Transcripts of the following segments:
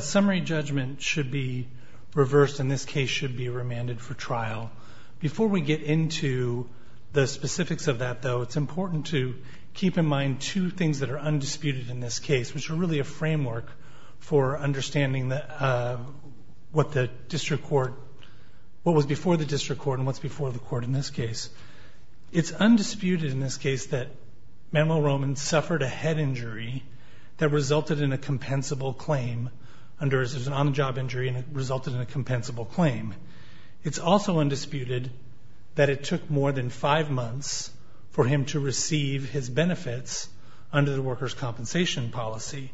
Summary judgment should be reversed and this case should be remanded for trial. Before we get into the specifics of that, though, it's important to keep in mind two things that are undisputed in this case, which are really a framework for understanding what was before the district court and what's before the court in this case. It's undisputed in this case that Manuel Roman suffered a head injury that resulted in a compensable claim. There was an on-the-job injury and it resulted in a compensable claim. It's also undisputed that it took more than five months for him to receive his benefits under the workers' compensation policy.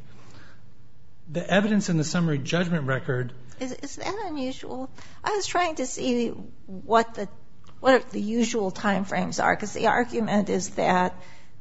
The evidence in the summary judgment record – Is that unusual? I was trying to see what the usual timeframes are because the argument is that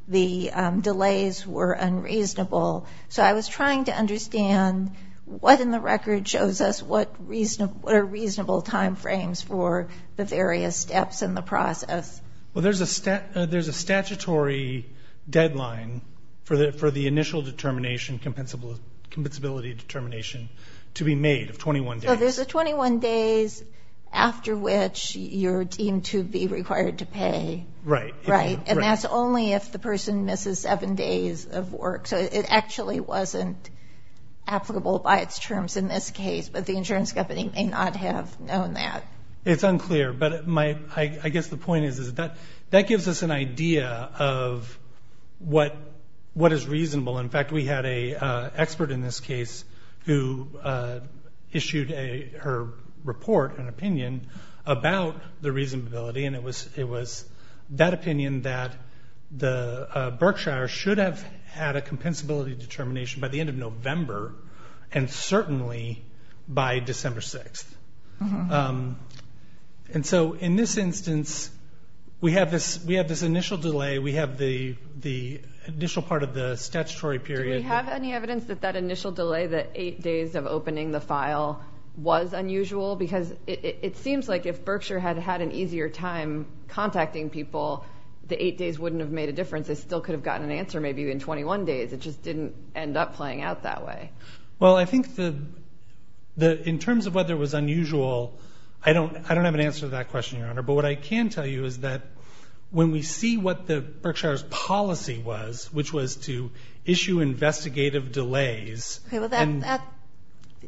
the delays were unreasonable. So I was trying to understand what in the record shows us what are reasonable timeframes for the various steps in the process. Well, there's a statutory deadline for the initial determination, compensability determination, to be made of 21 days. So there's 21 days after which you're deemed to be required to pay. Right. Right. And that's only if the person misses seven days of work. So it actually wasn't applicable by its terms in this case, but the insurance company may not have known that. It's unclear. But I guess the point is that that gives us an idea of what is reasonable. In fact, we had an expert in this case who issued her report, her opinion, about the reasonability. And it was that opinion that Berkshire should have had a compensability determination by the end of November and certainly by December 6th. And so in this instance, we have this initial delay. We have the initial part of the statutory period. Do we have any evidence that that initial delay, the eight days of opening the file, was unusual? Because it seems like if Berkshire had had an easier time contacting people, the eight days wouldn't have made a difference. They still could have gotten an answer maybe in 21 days. It just didn't end up playing out that way. Well, I think in terms of whether it was unusual, I don't have an answer to that question, Your Honor. But what I can tell you is that when we see what Berkshire's policy was, which was to issue investigative delays. Okay. Well, that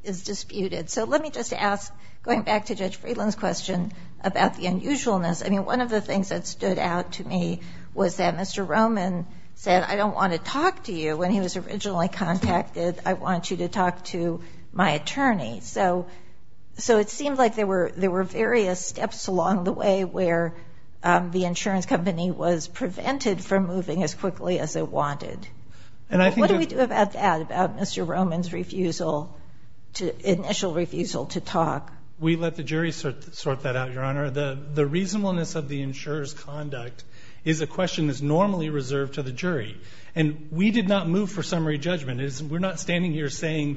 is disputed. So let me just ask, going back to Judge Friedland's question about the unusualness. I mean, one of the things that stood out to me was that Mr. Roman said, I don't want to talk to you when he was originally contacted. I want you to talk to my attorney. So it seemed like there were various steps along the way where the insurance company was prevented from moving as quickly as it wanted. What do we do about that, about Mr. Roman's refusal, initial refusal to talk? We let the jury sort that out, Your Honor. The reasonableness of the insurer's conduct is a question that's normally reserved to the jury. And we did not move for summary judgment. We're not standing here saying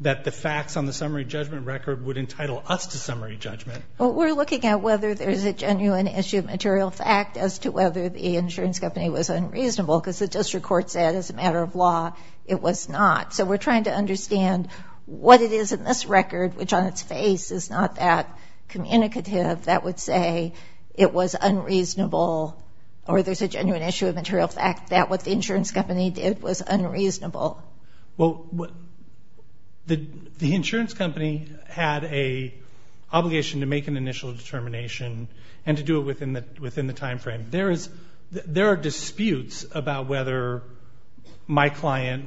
that the facts on the summary judgment record would entitle us to summary judgment. Well, we're looking at whether there's a genuine issue of material fact as to whether the insurance company was unreasonable because the district court said as a matter of law it was not. So we're trying to understand what it is in this record, which on its face is not that communicative, that would say it was unreasonable or there's a genuine issue of material fact that what the insurance company did was unreasonable. Well, the insurance company had an obligation to make an initial determination and to do it within the timeframe. There are disputes about whether my client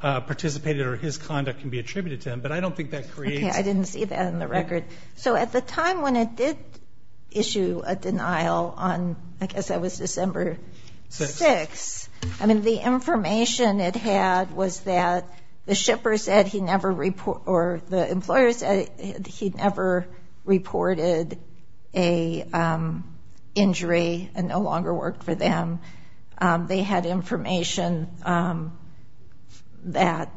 participated or his conduct can be attributed to him, but I don't think that creates. Okay, I didn't see that in the record. So at the time when it did issue a denial on, I guess that was December 6th, I mean, the information it had was that the shipper said he never, or the employer said he never reported an injury and no longer worked for them. They had information that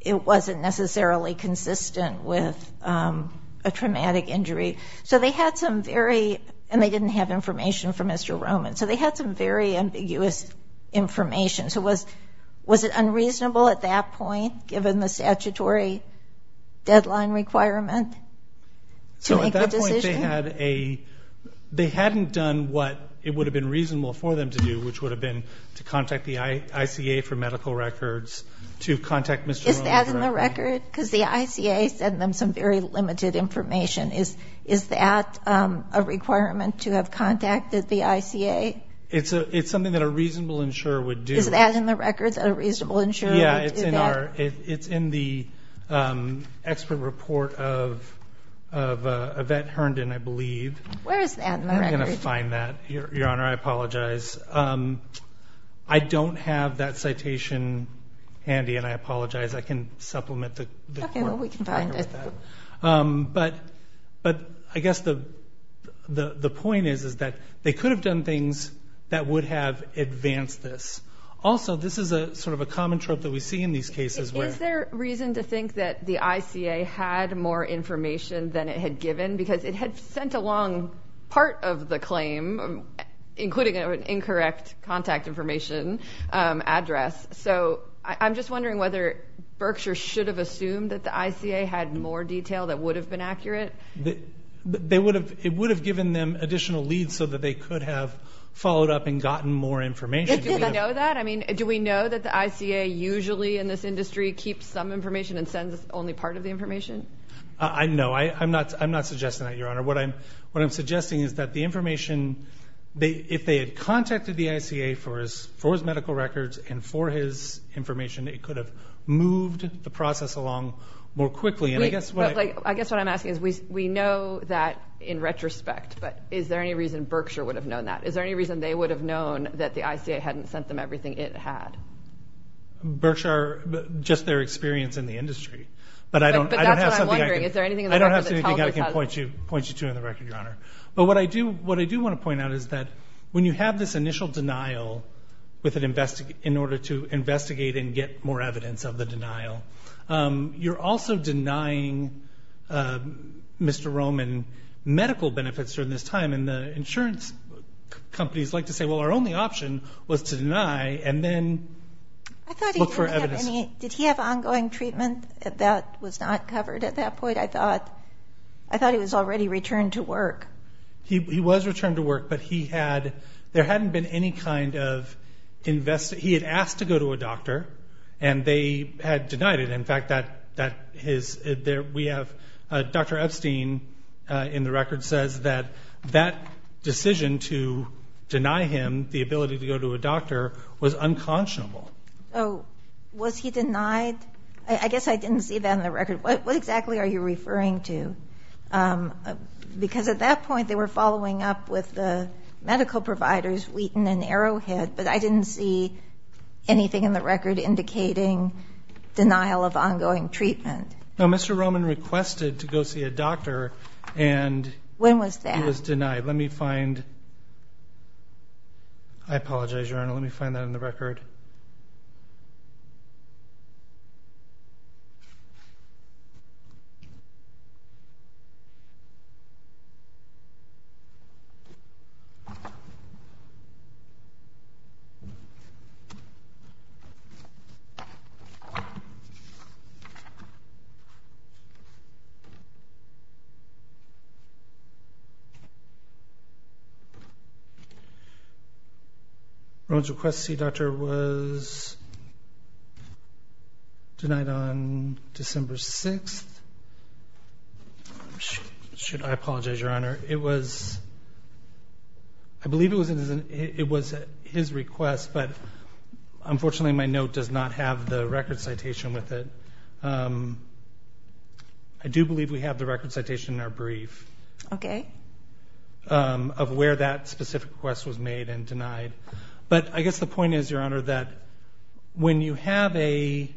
it wasn't necessarily consistent with a traumatic injury. So they had some very, and they didn't have information from Mr. Roman, so they had some very ambiguous information. So was it unreasonable at that point, given the statutory deadline requirement to make the decision? So at that point they had a, they hadn't done what it would have been reasonable for them to do, which would have been to contact the ICA for medical records, to contact Mr. Roman directly. Is that in the record? Because the ICA sent them some very limited information. Is that a requirement to have contacted the ICA? It's something that a reasonable insurer would do. Is that in the record, that a reasonable insurer would do that? Yeah, it's in the expert report of Yvette Herndon, I believe. Where is that in the record? I'm going to find that. Your Honor, I apologize. I don't have that citation handy, and I apologize. I can supplement the court matter with that. Okay, well, we can find it. But I guess the point is that they could have done things that would have advanced this. Also, this is sort of a common trope that we see in these cases. Is there reason to think that the ICA had more information than it had given? Because it had sent along part of the claim, including an incorrect contact information address. So I'm just wondering whether Berkshire should have assumed that the ICA had more detail that would have been accurate. It would have given them additional leads so that they could have followed up and gotten more information. Do we know that? I mean, do we know that the ICA usually, in this industry, keeps some information and sends only part of the information? No, I'm not suggesting that, Your Honor. What I'm suggesting is that the information, if they had contacted the ICA for his medical records and for his information, it could have moved the process along more quickly. I guess what I'm asking is we know that in retrospect, but is there any reason Berkshire would have known that? Is there any reason they would have known that the ICA hadn't sent them everything it had? Berkshire, just their experience in the industry. But that's what I'm wondering. Is there anything in the record that tells us? I don't have anything I can point you to in the record, Your Honor. But what I do want to point out is that when you have this initial denial in order to investigate and get more evidence of the denial, you're also denying Mr. Roman medical benefits during this time. And the insurance companies like to say, well, our only option was to deny and then look for evidence. Did he have ongoing treatment that was not covered at that point? I thought he was already returned to work. He was returned to work, but there hadn't been any kind of investigation. He had asked to go to a doctor, and they had denied it. In fact, Dr. Epstein in the record says that that decision to deny him the ability to go to a doctor was unconscionable. Was he denied? I guess I didn't see that in the record. What exactly are you referring to? Because at that point they were following up with the medical providers, Wheaton and Arrowhead, but I didn't see anything in the record indicating denial of ongoing treatment. No, Mr. Roman requested to go see a doctor and he was denied. When was that? All right, let me find that in the record. Roman's request to see a doctor was denied on December 6th. Should I apologize, Your Honor? It was his request, but unfortunately my note does not have the record citation with it. I do believe we have the record citation in our brief. Okay. Of where that specific request was made and denied. But I guess the point is, Your Honor, that when you have a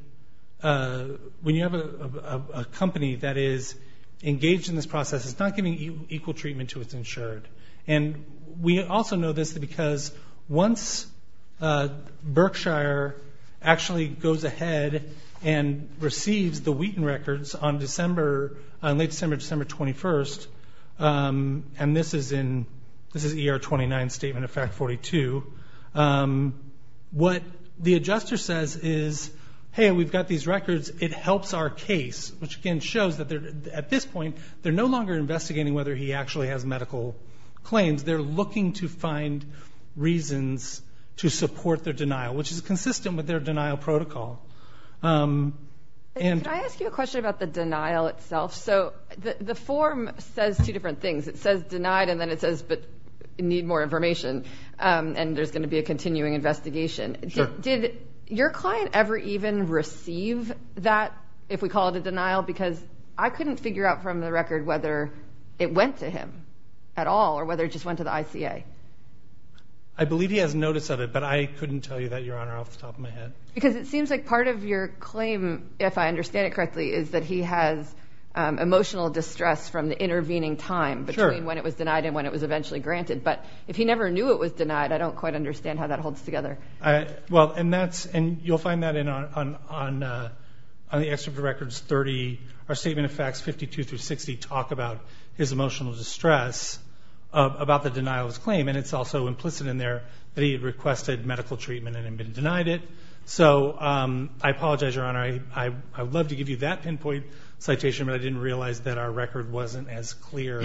company that is engaged in this process, it's not giving equal treatment to its insured. And we also know this because once Berkshire actually goes ahead and receives the Wheaton records on December, on late December, December 21st, and this is in, this is ER 29 statement of fact 42, what the adjuster says is, hey, we've got these records, it helps our case, which again shows that at this point they're no longer investigating whether he actually has medical claims. They're looking to find reasons to support their denial, which is consistent with their denial protocol. Can I ask you a question about the denial itself? So the form says two different things. It says denied and then it says need more information, and there's going to be a continuing investigation. Did your client ever even receive that, if we call it a denial? Because I couldn't figure out from the record whether it went to him at all or whether it just went to the ICA. I believe he has notice of it, but I couldn't tell you that, Your Honor, off the top of my head. Because it seems like part of your claim, if I understand it correctly, is that he has emotional distress from the intervening time between when it was denied and when it was eventually granted. But if he never knew it was denied, I don't quite understand how that holds together. Well, and you'll find that on the excerpt of records 30. Our statement of facts 52 through 60 talk about his emotional distress, about the denial of his claim, and it's also implicit in there that he had requested medical treatment and had been denied it. So I apologize, Your Honor. I would love to give you that pinpoint citation, but I didn't realize that our record wasn't as clear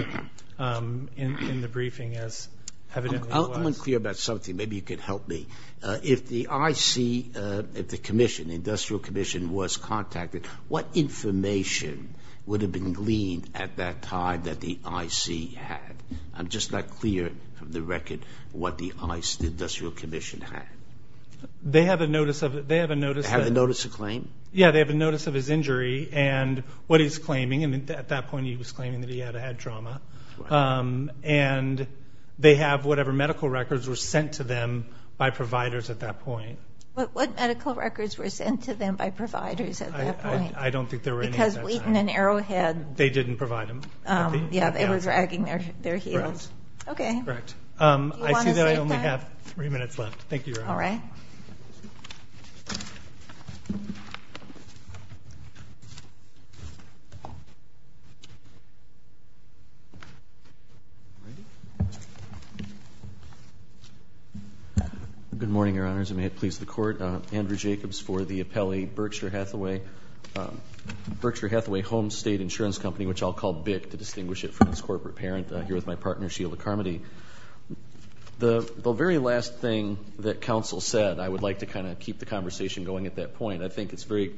in the briefing as evidently was. I'm unclear about something. Maybe you can help me. If the IC, if the commission, the industrial commission was contacted, what information would have been gleaned at that time that the IC had? I'm just not clear from the record what the industrial commission had. They have a notice of it. They have a notice of it. They have a notice of claim? Yeah, they have a notice of his injury and what he's claiming, and at that point he was claiming that he had had trauma. And they have whatever medical records were sent to them by providers at that point. What medical records were sent to them by providers at that point? I don't think there were any at that time. Because Wheaton and Arrowhead. They didn't provide them. Yeah, they were dragging their heels. Correct. Okay. Do you want to state that? I see that I only have three minutes left. Thank you, Your Honor. All right. Randy? Good morning, Your Honors, and may it please the Court. Andrew Jacobs for the appellee Berkshire Hathaway. Berkshire Hathaway Home State Insurance Company, which I'll call BIC to distinguish it from its corporate parent, here with my partner Sheila Carmody. The very last thing that counsel said, I would like to kind of keep the conversation going at that point. I think it's very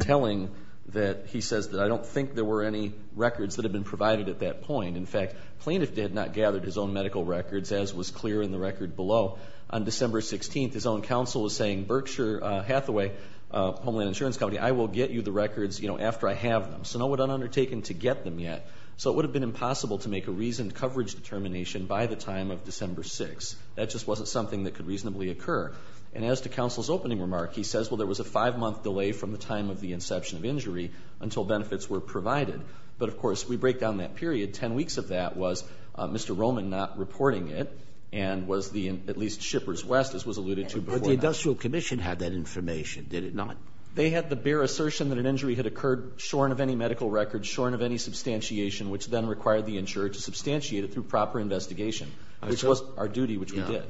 telling that he says that I don't think there were any records that had been provided at that point. In fact, the plaintiff did not gather his own medical records, as was clear in the record below. On December 16th, his own counsel was saying, Berkshire Hathaway Homeland Insurance Company, I will get you the records after I have them. So no one had undertaken to get them yet. So it would have been impossible to make a reasoned coverage determination by the time of December 6th. That just wasn't something that could reasonably occur. And as to counsel's opening remark, he says, well, there was a five-month delay from the time of the inception of injury until benefits were provided. But, of course, we break down that period. Ten weeks of that was Mr. Roman not reporting it and was the, at least, Shippers West, as was alluded to before that. Sotomayor But the industrial commission had that information, did it not? They had the bare assertion that an injury had occurred shorn of any medical record, shorn of any substantiation, which then required the insurer to substantiate it through proper investigation, which was our duty, which we did.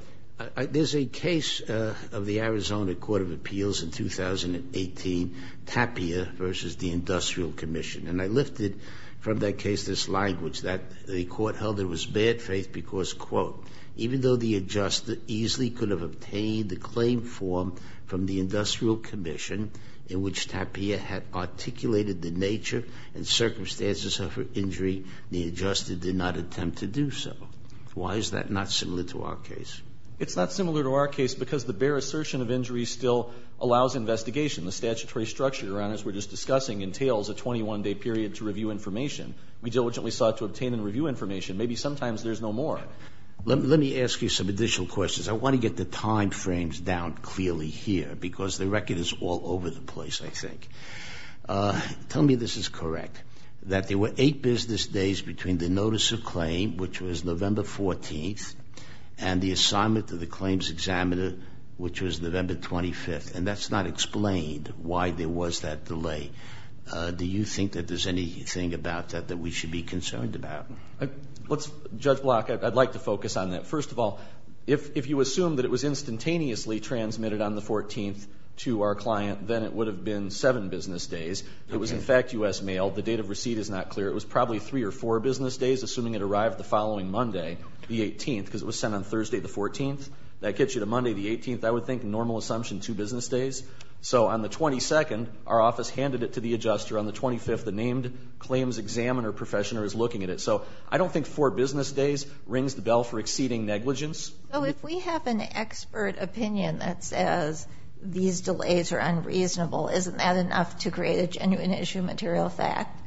There's a case of the Arizona Court of Appeals in 2018, Tapia v. The Industrial Commission. And I lifted from that case this language that the court held there was bad faith because, quote, even though the adjuster easily could have obtained the claim form from the industrial commission in which Tapia had articulated the nature and circumstances of her injury, the adjuster did not attempt to do so. Why is that not similar to our case? It's not similar to our case because the bare assertion of injury still allows investigation. The statutory structure, Your Honors, we're just discussing, entails a 21-day period to review information. We diligently sought to obtain and review information. Maybe sometimes there's no more. Let me ask you some additional questions. I want to get the time frames down clearly here because the record is all over the place, I think. Tell me this is correct, that there were eight business days between the notice of claim, which was November 14th, and the assignment to the claims examiner, which was November 25th. And that's not explained why there was that delay. Do you think that there's anything about that that we should be concerned about? Judge Block, I'd like to focus on that. First of all, if you assume that it was instantaneously transmitted on the 14th to our client, then it would have been seven business days. It was in fact U.S. mail. The date of receipt is not clear. It was probably three or four business days, assuming it arrived the following Monday, the 18th, because it was sent on Thursday the 14th. That gets you to Monday the 18th, I would think, normal assumption, two business days. So on the 22nd, our office handed it to the adjuster. On the 25th, the named claims examiner professional is looking at it. So I don't think four business days rings the bell for exceeding negligence. So if we have an expert opinion that says these delays are unreasonable, isn't that enough to create a genuine issue material fact?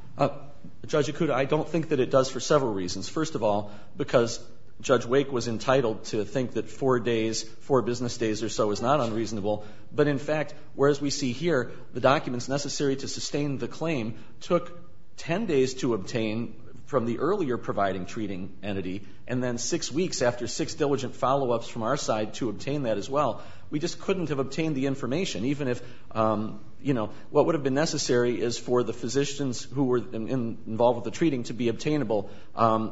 Judge Akuta, I don't think that it does for several reasons. First of all, because Judge Wake was entitled to think that four days, four business days or so is not unreasonable. But in fact, whereas we see here the documents necessary to sustain the claim took 10 days to obtain from the earlier providing treating entity, and then six weeks after six diligent follow-ups from our side to obtain that as well. We just couldn't have obtained the information, even if, you know, what would have been necessary is for the physicians who were involved with the treating to be obtainable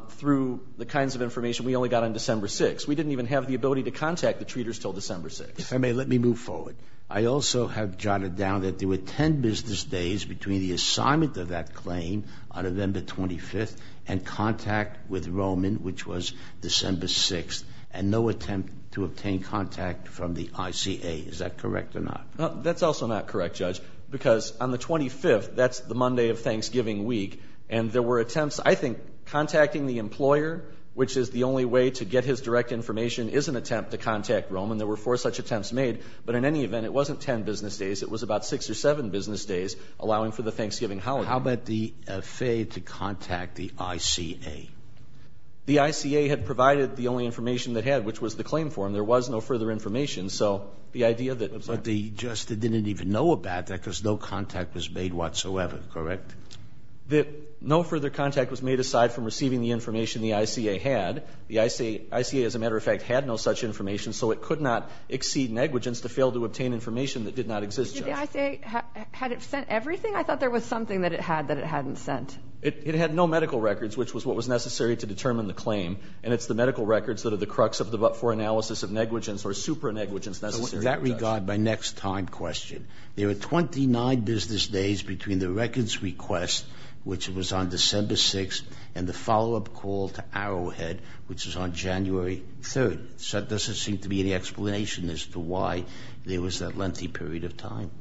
through the kinds of information we only got on December 6th. We didn't even have the ability to contact the treaters until December 6th. If I may, let me move forward. I also have jotted down that there were 10 business days between the assignment of that claim on November 25th and contact with Roman, which was December 6th, and no attempt to obtain contact from the ICA. Is that correct or not? That's also not correct, Judge, because on the 25th, that's the Monday of Thanksgiving week. And there were attempts, I think, contacting the employer, which is the only way to get his direct information, is an attempt to contact Roman. There were four such attempts made. But in any event, it wasn't 10 business days. It was about six or seven business days, allowing for the Thanksgiving holiday. How about the fail to contact the ICA? The ICA had provided the only information it had, which was the claim form. There was no further information. So the idea that the judge had to contact the ICA. The ICA didn't even know about that because no contact was made whatsoever, correct? No further contact was made aside from receiving the information the ICA had. The ICA, as a matter of fact, had no such information, so it could not exceed negligence to fail to obtain information that did not exist, Judge. But did the ICA, had it sent everything? I thought there was something that it had that it hadn't sent. It had no medical records, which was what was necessary to determine the claim. And it's the medical records that are the crux of the but-for analysis of negligence or supra-negligence necessary to judge. In that regard, my next time question. There were 29 business days between the records request, which was on December 6th, and the follow-up call to Arrowhead, which was on January 3rd. So there doesn't seem to be any explanation as to why there was that lengthy period of time.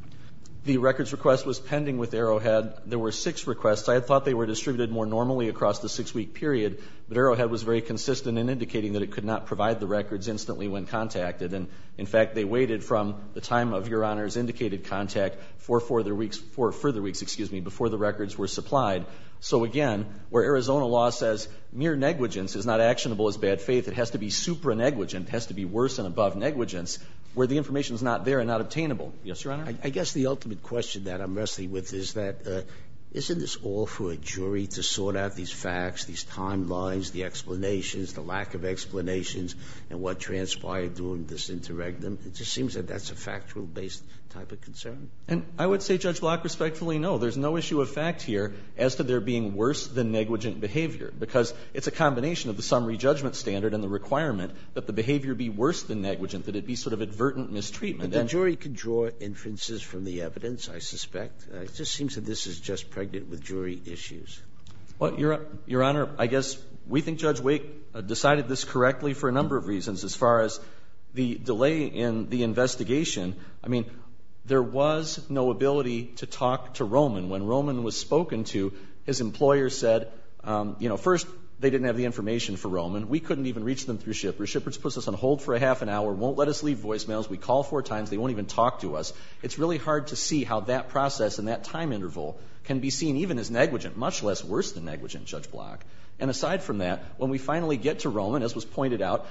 The records request was pending with Arrowhead. There were six requests. I had thought they were distributed more normally across the six-week period, but Arrowhead was very consistent in indicating that it could not provide the records instantly when contacted. And, in fact, they waited from the time of Your Honor's indicated contact for further weeks, for further weeks, excuse me, before the records were supplied. So, again, where Arizona law says mere negligence is not actionable as bad faith, it has to be supra-negligent, it has to be worse than above negligence, where the information is not there and not obtainable. Yes, Your Honor? I guess the ultimate question that I'm wrestling with is that isn't this all for a jury to sort out these facts, these timelines, the explanations, the lack of explanations and what transpired during this interregnum? It just seems that that's a factual-based type of concern. And I would say, Judge Block, respectfully, no. There's no issue of fact here as to there being worse-than-negligent behavior. Because it's a combination of the summary judgment standard and the requirement that the behavior be worse-than-negligent, that it be sort of advertent mistreatment. But the jury can draw inferences from the evidence, I suspect. It just seems that this is just pregnant with jury issues. Well, Your Honor, I guess we think Judge Wake decided this correctly for a number of reasons as far as the delay in the investigation. I mean, there was no ability to talk to Roman. When Roman was spoken to, his employer said, you know, first, they didn't have the information for Roman. We couldn't even reach them through Shippers. Shippers puts us on hold for a half an hour, won't let us leave voicemails. We call four times. They won't even talk to us. It's really hard to see how that process and that time interval can be seen even as worse-than-negligent, Judge Block. And aside from that, when we finally get to Roman, as was pointed out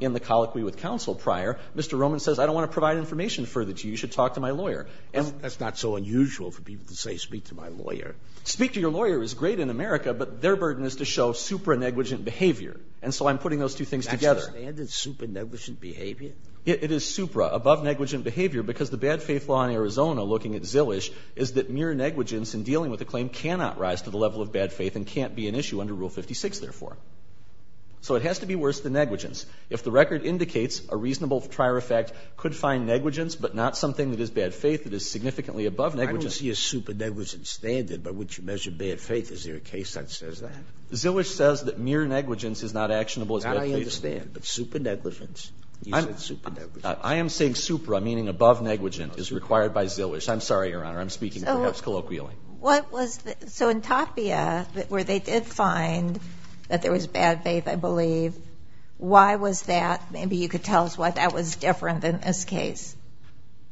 in the colloquy with counsel prior, Mr. Roman says, I don't want to provide information further to you, you should talk to my lawyer. And that's not so unusual for people to say speak to my lawyer. Speak to your lawyer is great in America, but their burden is to show supra-negligent behavior. And so I'm putting those two things together. That's the standard, supra-negligent behavior? It is supra, above-negligent behavior, because the bad faith law in Arizona, looking at Zillish, is that mere negligence in dealing with a claim cannot rise to the level of bad faith and can't be an issue under Rule 56, therefore. So it has to be worse than negligence. If the record indicates a reasonable prior effect could find negligence but not something that is bad faith, it is significantly above negligence. I don't see a supra-negligent standard, but would you measure bad faith? Is there a case that says that? Zillish says that mere negligence is not actionable as bad faith. Now, I understand. But supra-negligence, you said supra-negligent. I am saying supra, meaning above-negligent, is required by Zillish. I'm sorry, Your Honor. I'm speaking perhaps colloquially. So in Tapia, where they did find that there was bad faith, I believe, why was that? Maybe you could tell us why that was different than this case.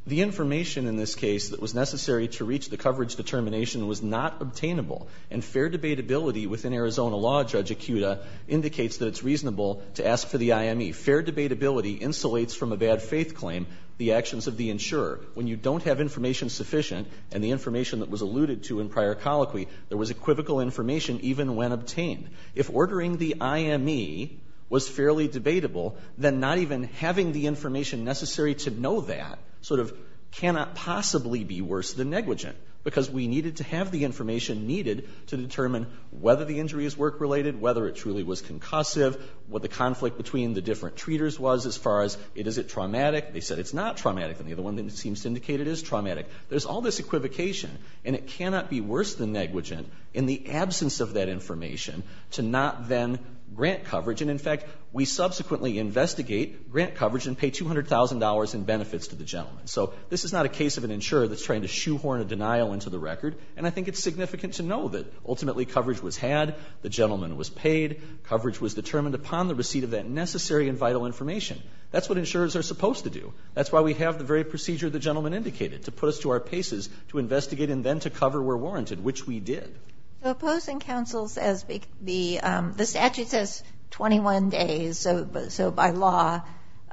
The information in this case that was necessary to reach the coverage determination was not obtainable. And fair debatability within Arizona law, Judge Ikuda, indicates that it's reasonable to ask for the IME. Fair debatability insulates from a bad faith claim the actions of the insurer. When you don't have information sufficient and the information that was alluded to in prior colloquy, there was equivocal information even when obtained. If ordering the IME was fairly debatable, then not even having the information necessary to know that sort of cannot possibly be worse than negligent, because we needed to have the information needed to determine whether the injury is work-related, whether it truly was concussive, what the conflict between the different treaters was as far as is it traumatic. They said it's not traumatic. And the other one that seems to indicate it is traumatic. There's all this equivocation. And it cannot be worse than negligent in the absence of that information to not then grant coverage. And, in fact, we subsequently investigate grant coverage and pay $200,000 in benefits to the gentleman. So this is not a case of an insurer that's trying to shoehorn a denial into the record. And I think it's significant to know that ultimately coverage was had. The gentleman was paid. Coverage was determined upon the receipt of that necessary and vital information. That's what insurers are supposed to do. That's why we have the very procedure the gentleman indicated to put us to our paces to investigate and then to cover we're warranted, which we did. So opposing counsel says the statute says 21 days. So by law,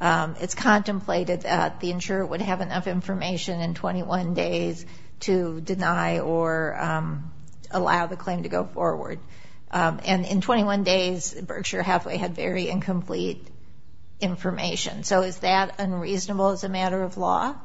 it's contemplated that the insurer would have enough information in 21 days to deny or allow the claim to go forward. And in 21 days, Berkshire Hathaway had very incomplete information. So is that unreasonable as a matter of law?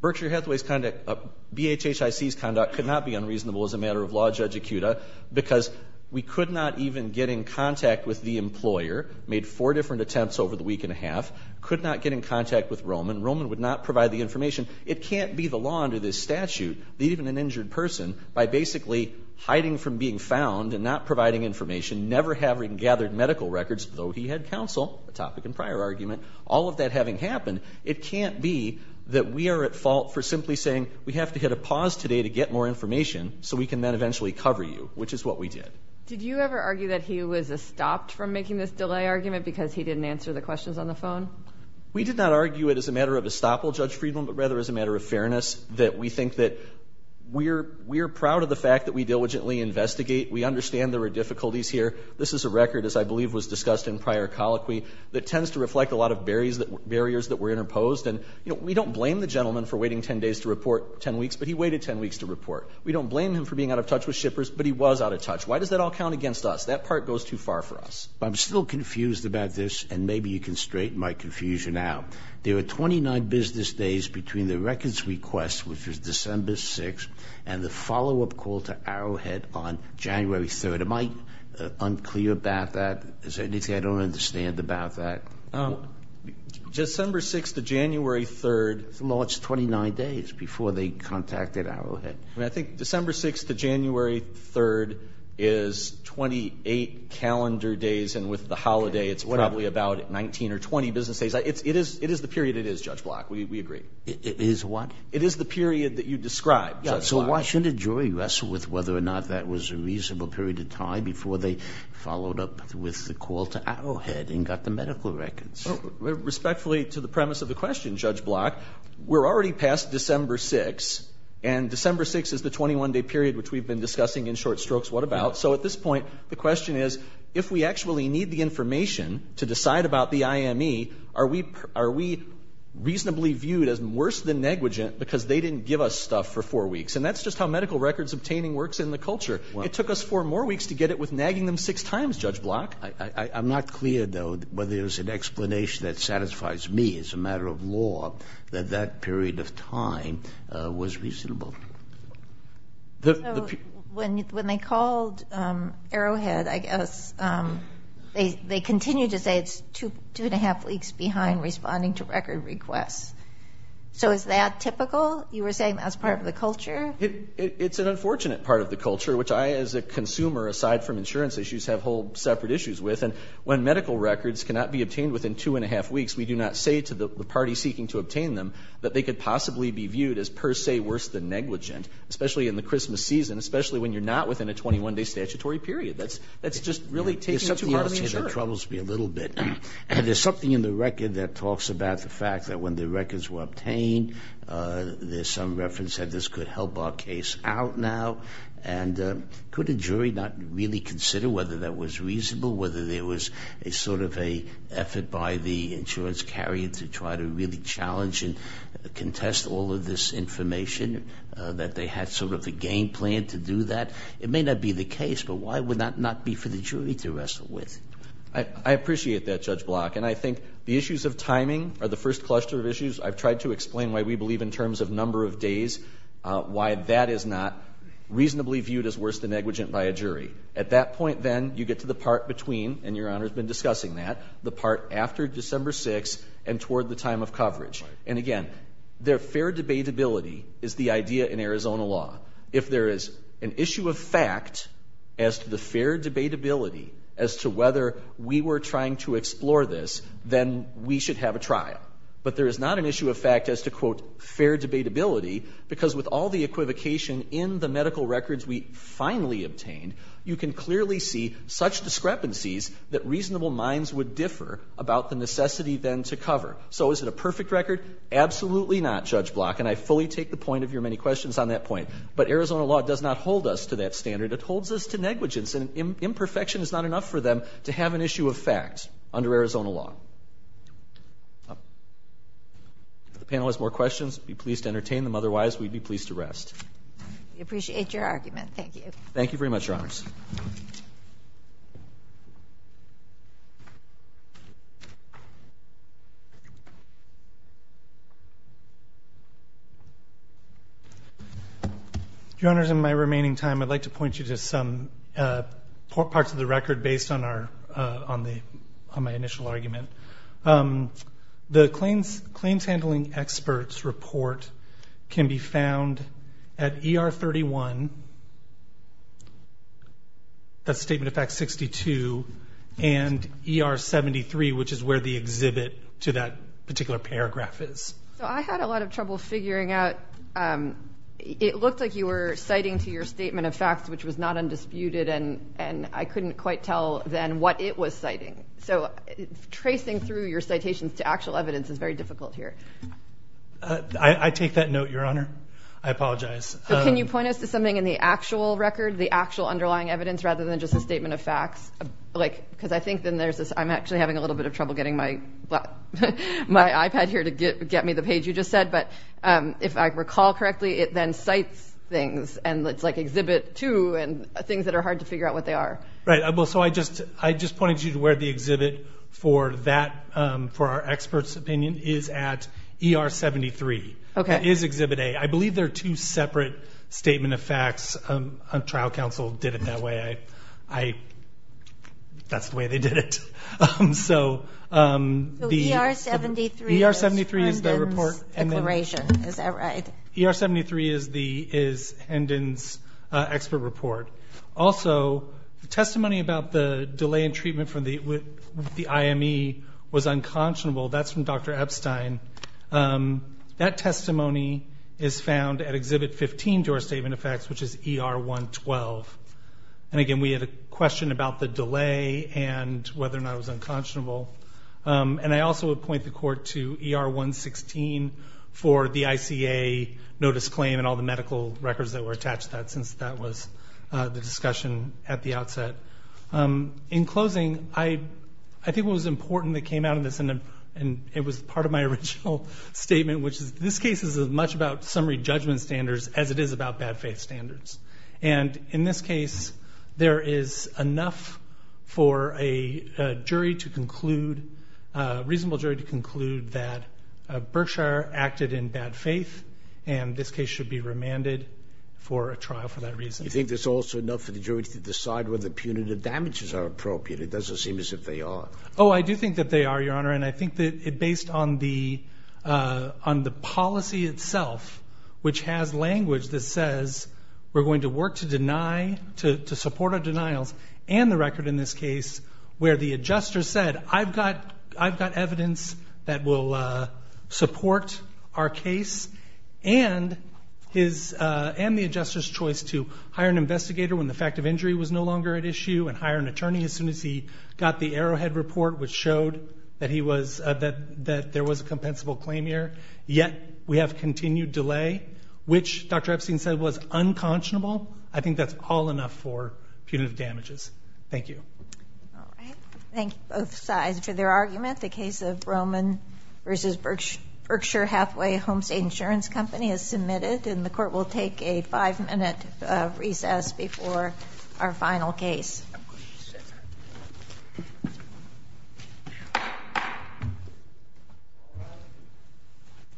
Berkshire Hathaway's conduct, BHHIC's conduct could not be unreasonable as a matter of law, Judge Ikuda, because we could not even get in contact with the employer, made four different attempts over the week and a half, could not get in contact with Roman. Roman would not provide the information. It can't be the law under this statute that even an injured person, by basically hiding from being found and not providing information, never having gathered medical records, though he had counsel, a topic in prior argument, all of that having happened, it can't be that we are at fault for simply saying, we have to hit a pause today to get more information so we can then eventually cover you, which is what we did. Did you ever argue that he was stopped from making this delay argument because he didn't answer the questions on the phone? We did not argue it as a matter of estoppel, Judge Friedland, but rather as a matter of fairness, that we think that we are proud of the fact that we diligently investigate. We understand there are difficulties here. This is a record, as I believe was discussed in prior colloquy, that tends to reflect a lot of barriers that were interposed. And, you know, we don't blame the gentleman for waiting 10 days to report 10 weeks, but he waited 10 weeks to report. We don't blame him for being out of touch with shippers, but he was out of touch. Why does that all count against us? That part goes too far for us. I'm still confused about this, and maybe you can straighten my confusion out. There are 29 business days between the records request, which was December 6th, and the follow-up call to Arrowhead on January 3rd. Am I unclear about that? Is there anything I don't understand about that? December 6th to January 3rd. It's a large 29 days before they contacted Arrowhead. I think December 6th to January 3rd is 28 calendar days, and with the holiday it's probably about 19 or 20 business days. It is the period it is, Judge Block. We agree. It is what? It is the period that you described, Judge Block. So why shouldn't a jury wrestle with whether or not that was a reasonable period of time before they followed up with the call to Arrowhead and got the medical records? Respectfully to the premise of the question, Judge Block, we're already past December 6th, and December 6th is the 21-day period which we've been discussing in short strokes what about. So at this point the question is if we actually need the information to decide about the IME, are we reasonably viewed as worse than negligent because they didn't give us stuff for four weeks? And that's just how medical records obtaining works in the culture. It took us four more weeks to get it with nagging them six times, Judge Block. I'm not clear, though, whether there's an explanation that satisfies me as a matter of law that that period of time was reasonable. So when they called Arrowhead, I guess, they continued to say it's two and a half weeks behind responding to record requests. So is that typical? You were saying that's part of the culture? It's an unfortunate part of the culture, which I as a consumer aside from insurance issues have whole separate issues with. And when medical records cannot be obtained within two and a half weeks, we do not say to the party seeking to obtain them that they could possibly be viewed as per se worse than negligent, especially in the Christmas season, especially when you're not within a 21-day statutory period. That's just really taking too long to ensure. There's something else here that troubles me a little bit. There's something in the record that talks about the fact that when the records were obtained, there's some reference that this could help our case out now. And could a jury not really consider whether that was reasonable, whether there was a sort of a effort by the insurance carrier to try to really challenge and contest all of this information, that they had sort of a game plan to do that? It may not be the case, but why would that not be for the jury to wrestle with? I appreciate that, Judge Block. And I think the issues of timing are the first cluster of issues. I've tried to explain why we believe in terms of number of days, why that is not reasonably viewed as worse than negligent by a jury. At that point, then, you get to the part between, and Your Honor has been discussing that, the part after December 6th and toward the time of coverage. And again, their fair debatability is the idea in Arizona law. If there is an issue of fact as to the fair debatability as to whether we were trying to explore this, then we should have a trial. But there is not an issue of fact as to, quote, fair debatability, because with all the equivocation in the medical records we finally obtained, you can clearly see such discrepancies that reasonable minds would differ about the necessity, then, to cover. So is it a perfect record? Absolutely not, Judge Block, and I fully take the point of your many questions on that point. But Arizona law does not hold us to that standard. It holds us to negligence, and imperfection is not enough for them to have an issue of fact under Arizona law. If the panel has more questions, I'd be pleased to entertain them. Otherwise, we'd be pleased to rest. We appreciate your argument. Thank you. Thank you very much, Your Honors. Your Honors, in my remaining time, I'd like to point you to some parts of the record based on my initial argument. The Claims Handling Experts Report can be found at ER 31, that's Statement of Fact 62, and ER 73, which is where the exhibit to that particular paragraph is. So I had a lot of trouble figuring out. It looked like you were citing to your Statement of Facts, which was not undisputed, and I couldn't quite tell, then, what it was citing. So tracing through your citations to actual evidence is very difficult here. I take that note, Your Honor. I apologize. Can you point us to something in the actual record, the actual underlying evidence, rather than just a Statement of Facts? Because I think then there's this – I'm actually having a little bit of trouble getting my iPad here to get me the page you just said, but if I recall correctly, it then cites things, and it's like Exhibit 2, and things that are hard to figure out what they are. Right. So I just pointed you to where the exhibit for that, for our experts' opinion, is at ER 73. Okay. It is Exhibit A. I believe they're two separate Statement of Facts. Trial counsel did it that way. That's the way they did it. So ER 73 is Herndon's declaration, is that right? ER 73 is Herndon's expert report. Also, the testimony about the delay in treatment for the IME was unconscionable. That's from Dr. Epstein. That testimony is found at Exhibit 15 to our Statement of Facts, which is ER 112. And again, we had a question about the delay and whether or not it was unconscionable. And I also would point the Court to ER 116 for the ICA notice claim and all the medical records that were attached to that since that was the discussion at the outset. In closing, I think what was important that came out of this, and it was part of my original statement, which is this case is as much about summary judgment standards as it is about bad faith standards. And in this case, there is enough for a jury to conclude, a reasonable jury to conclude, that Berkshire acted in bad faith and this case should be remanded for a trial for that reason. You think there's also enough for the jury to decide whether punitive damages are appropriate? It doesn't seem as if they are. Oh, I do think that they are, Your Honor, and I think that based on the policy itself, which has language that says we're going to work to deny, to support our denials, and the record in this case where the adjuster said I've got evidence that will support our case and the adjuster's choice to hire an investigator when the fact of injury was no longer at issue and hire an attorney as soon as he got the Arrowhead report, which showed that there was a compensable claim here. Yet we have continued delay, which Dr. Epstein said was unconscionable. I think that's all enough for punitive damages. Thank you. All right. Thank you, both sides, for their argument. The case of Roman v. Berkshire Hathaway Homestead Insurance Company is submitted, and the Court will take a five-minute recess before our final case.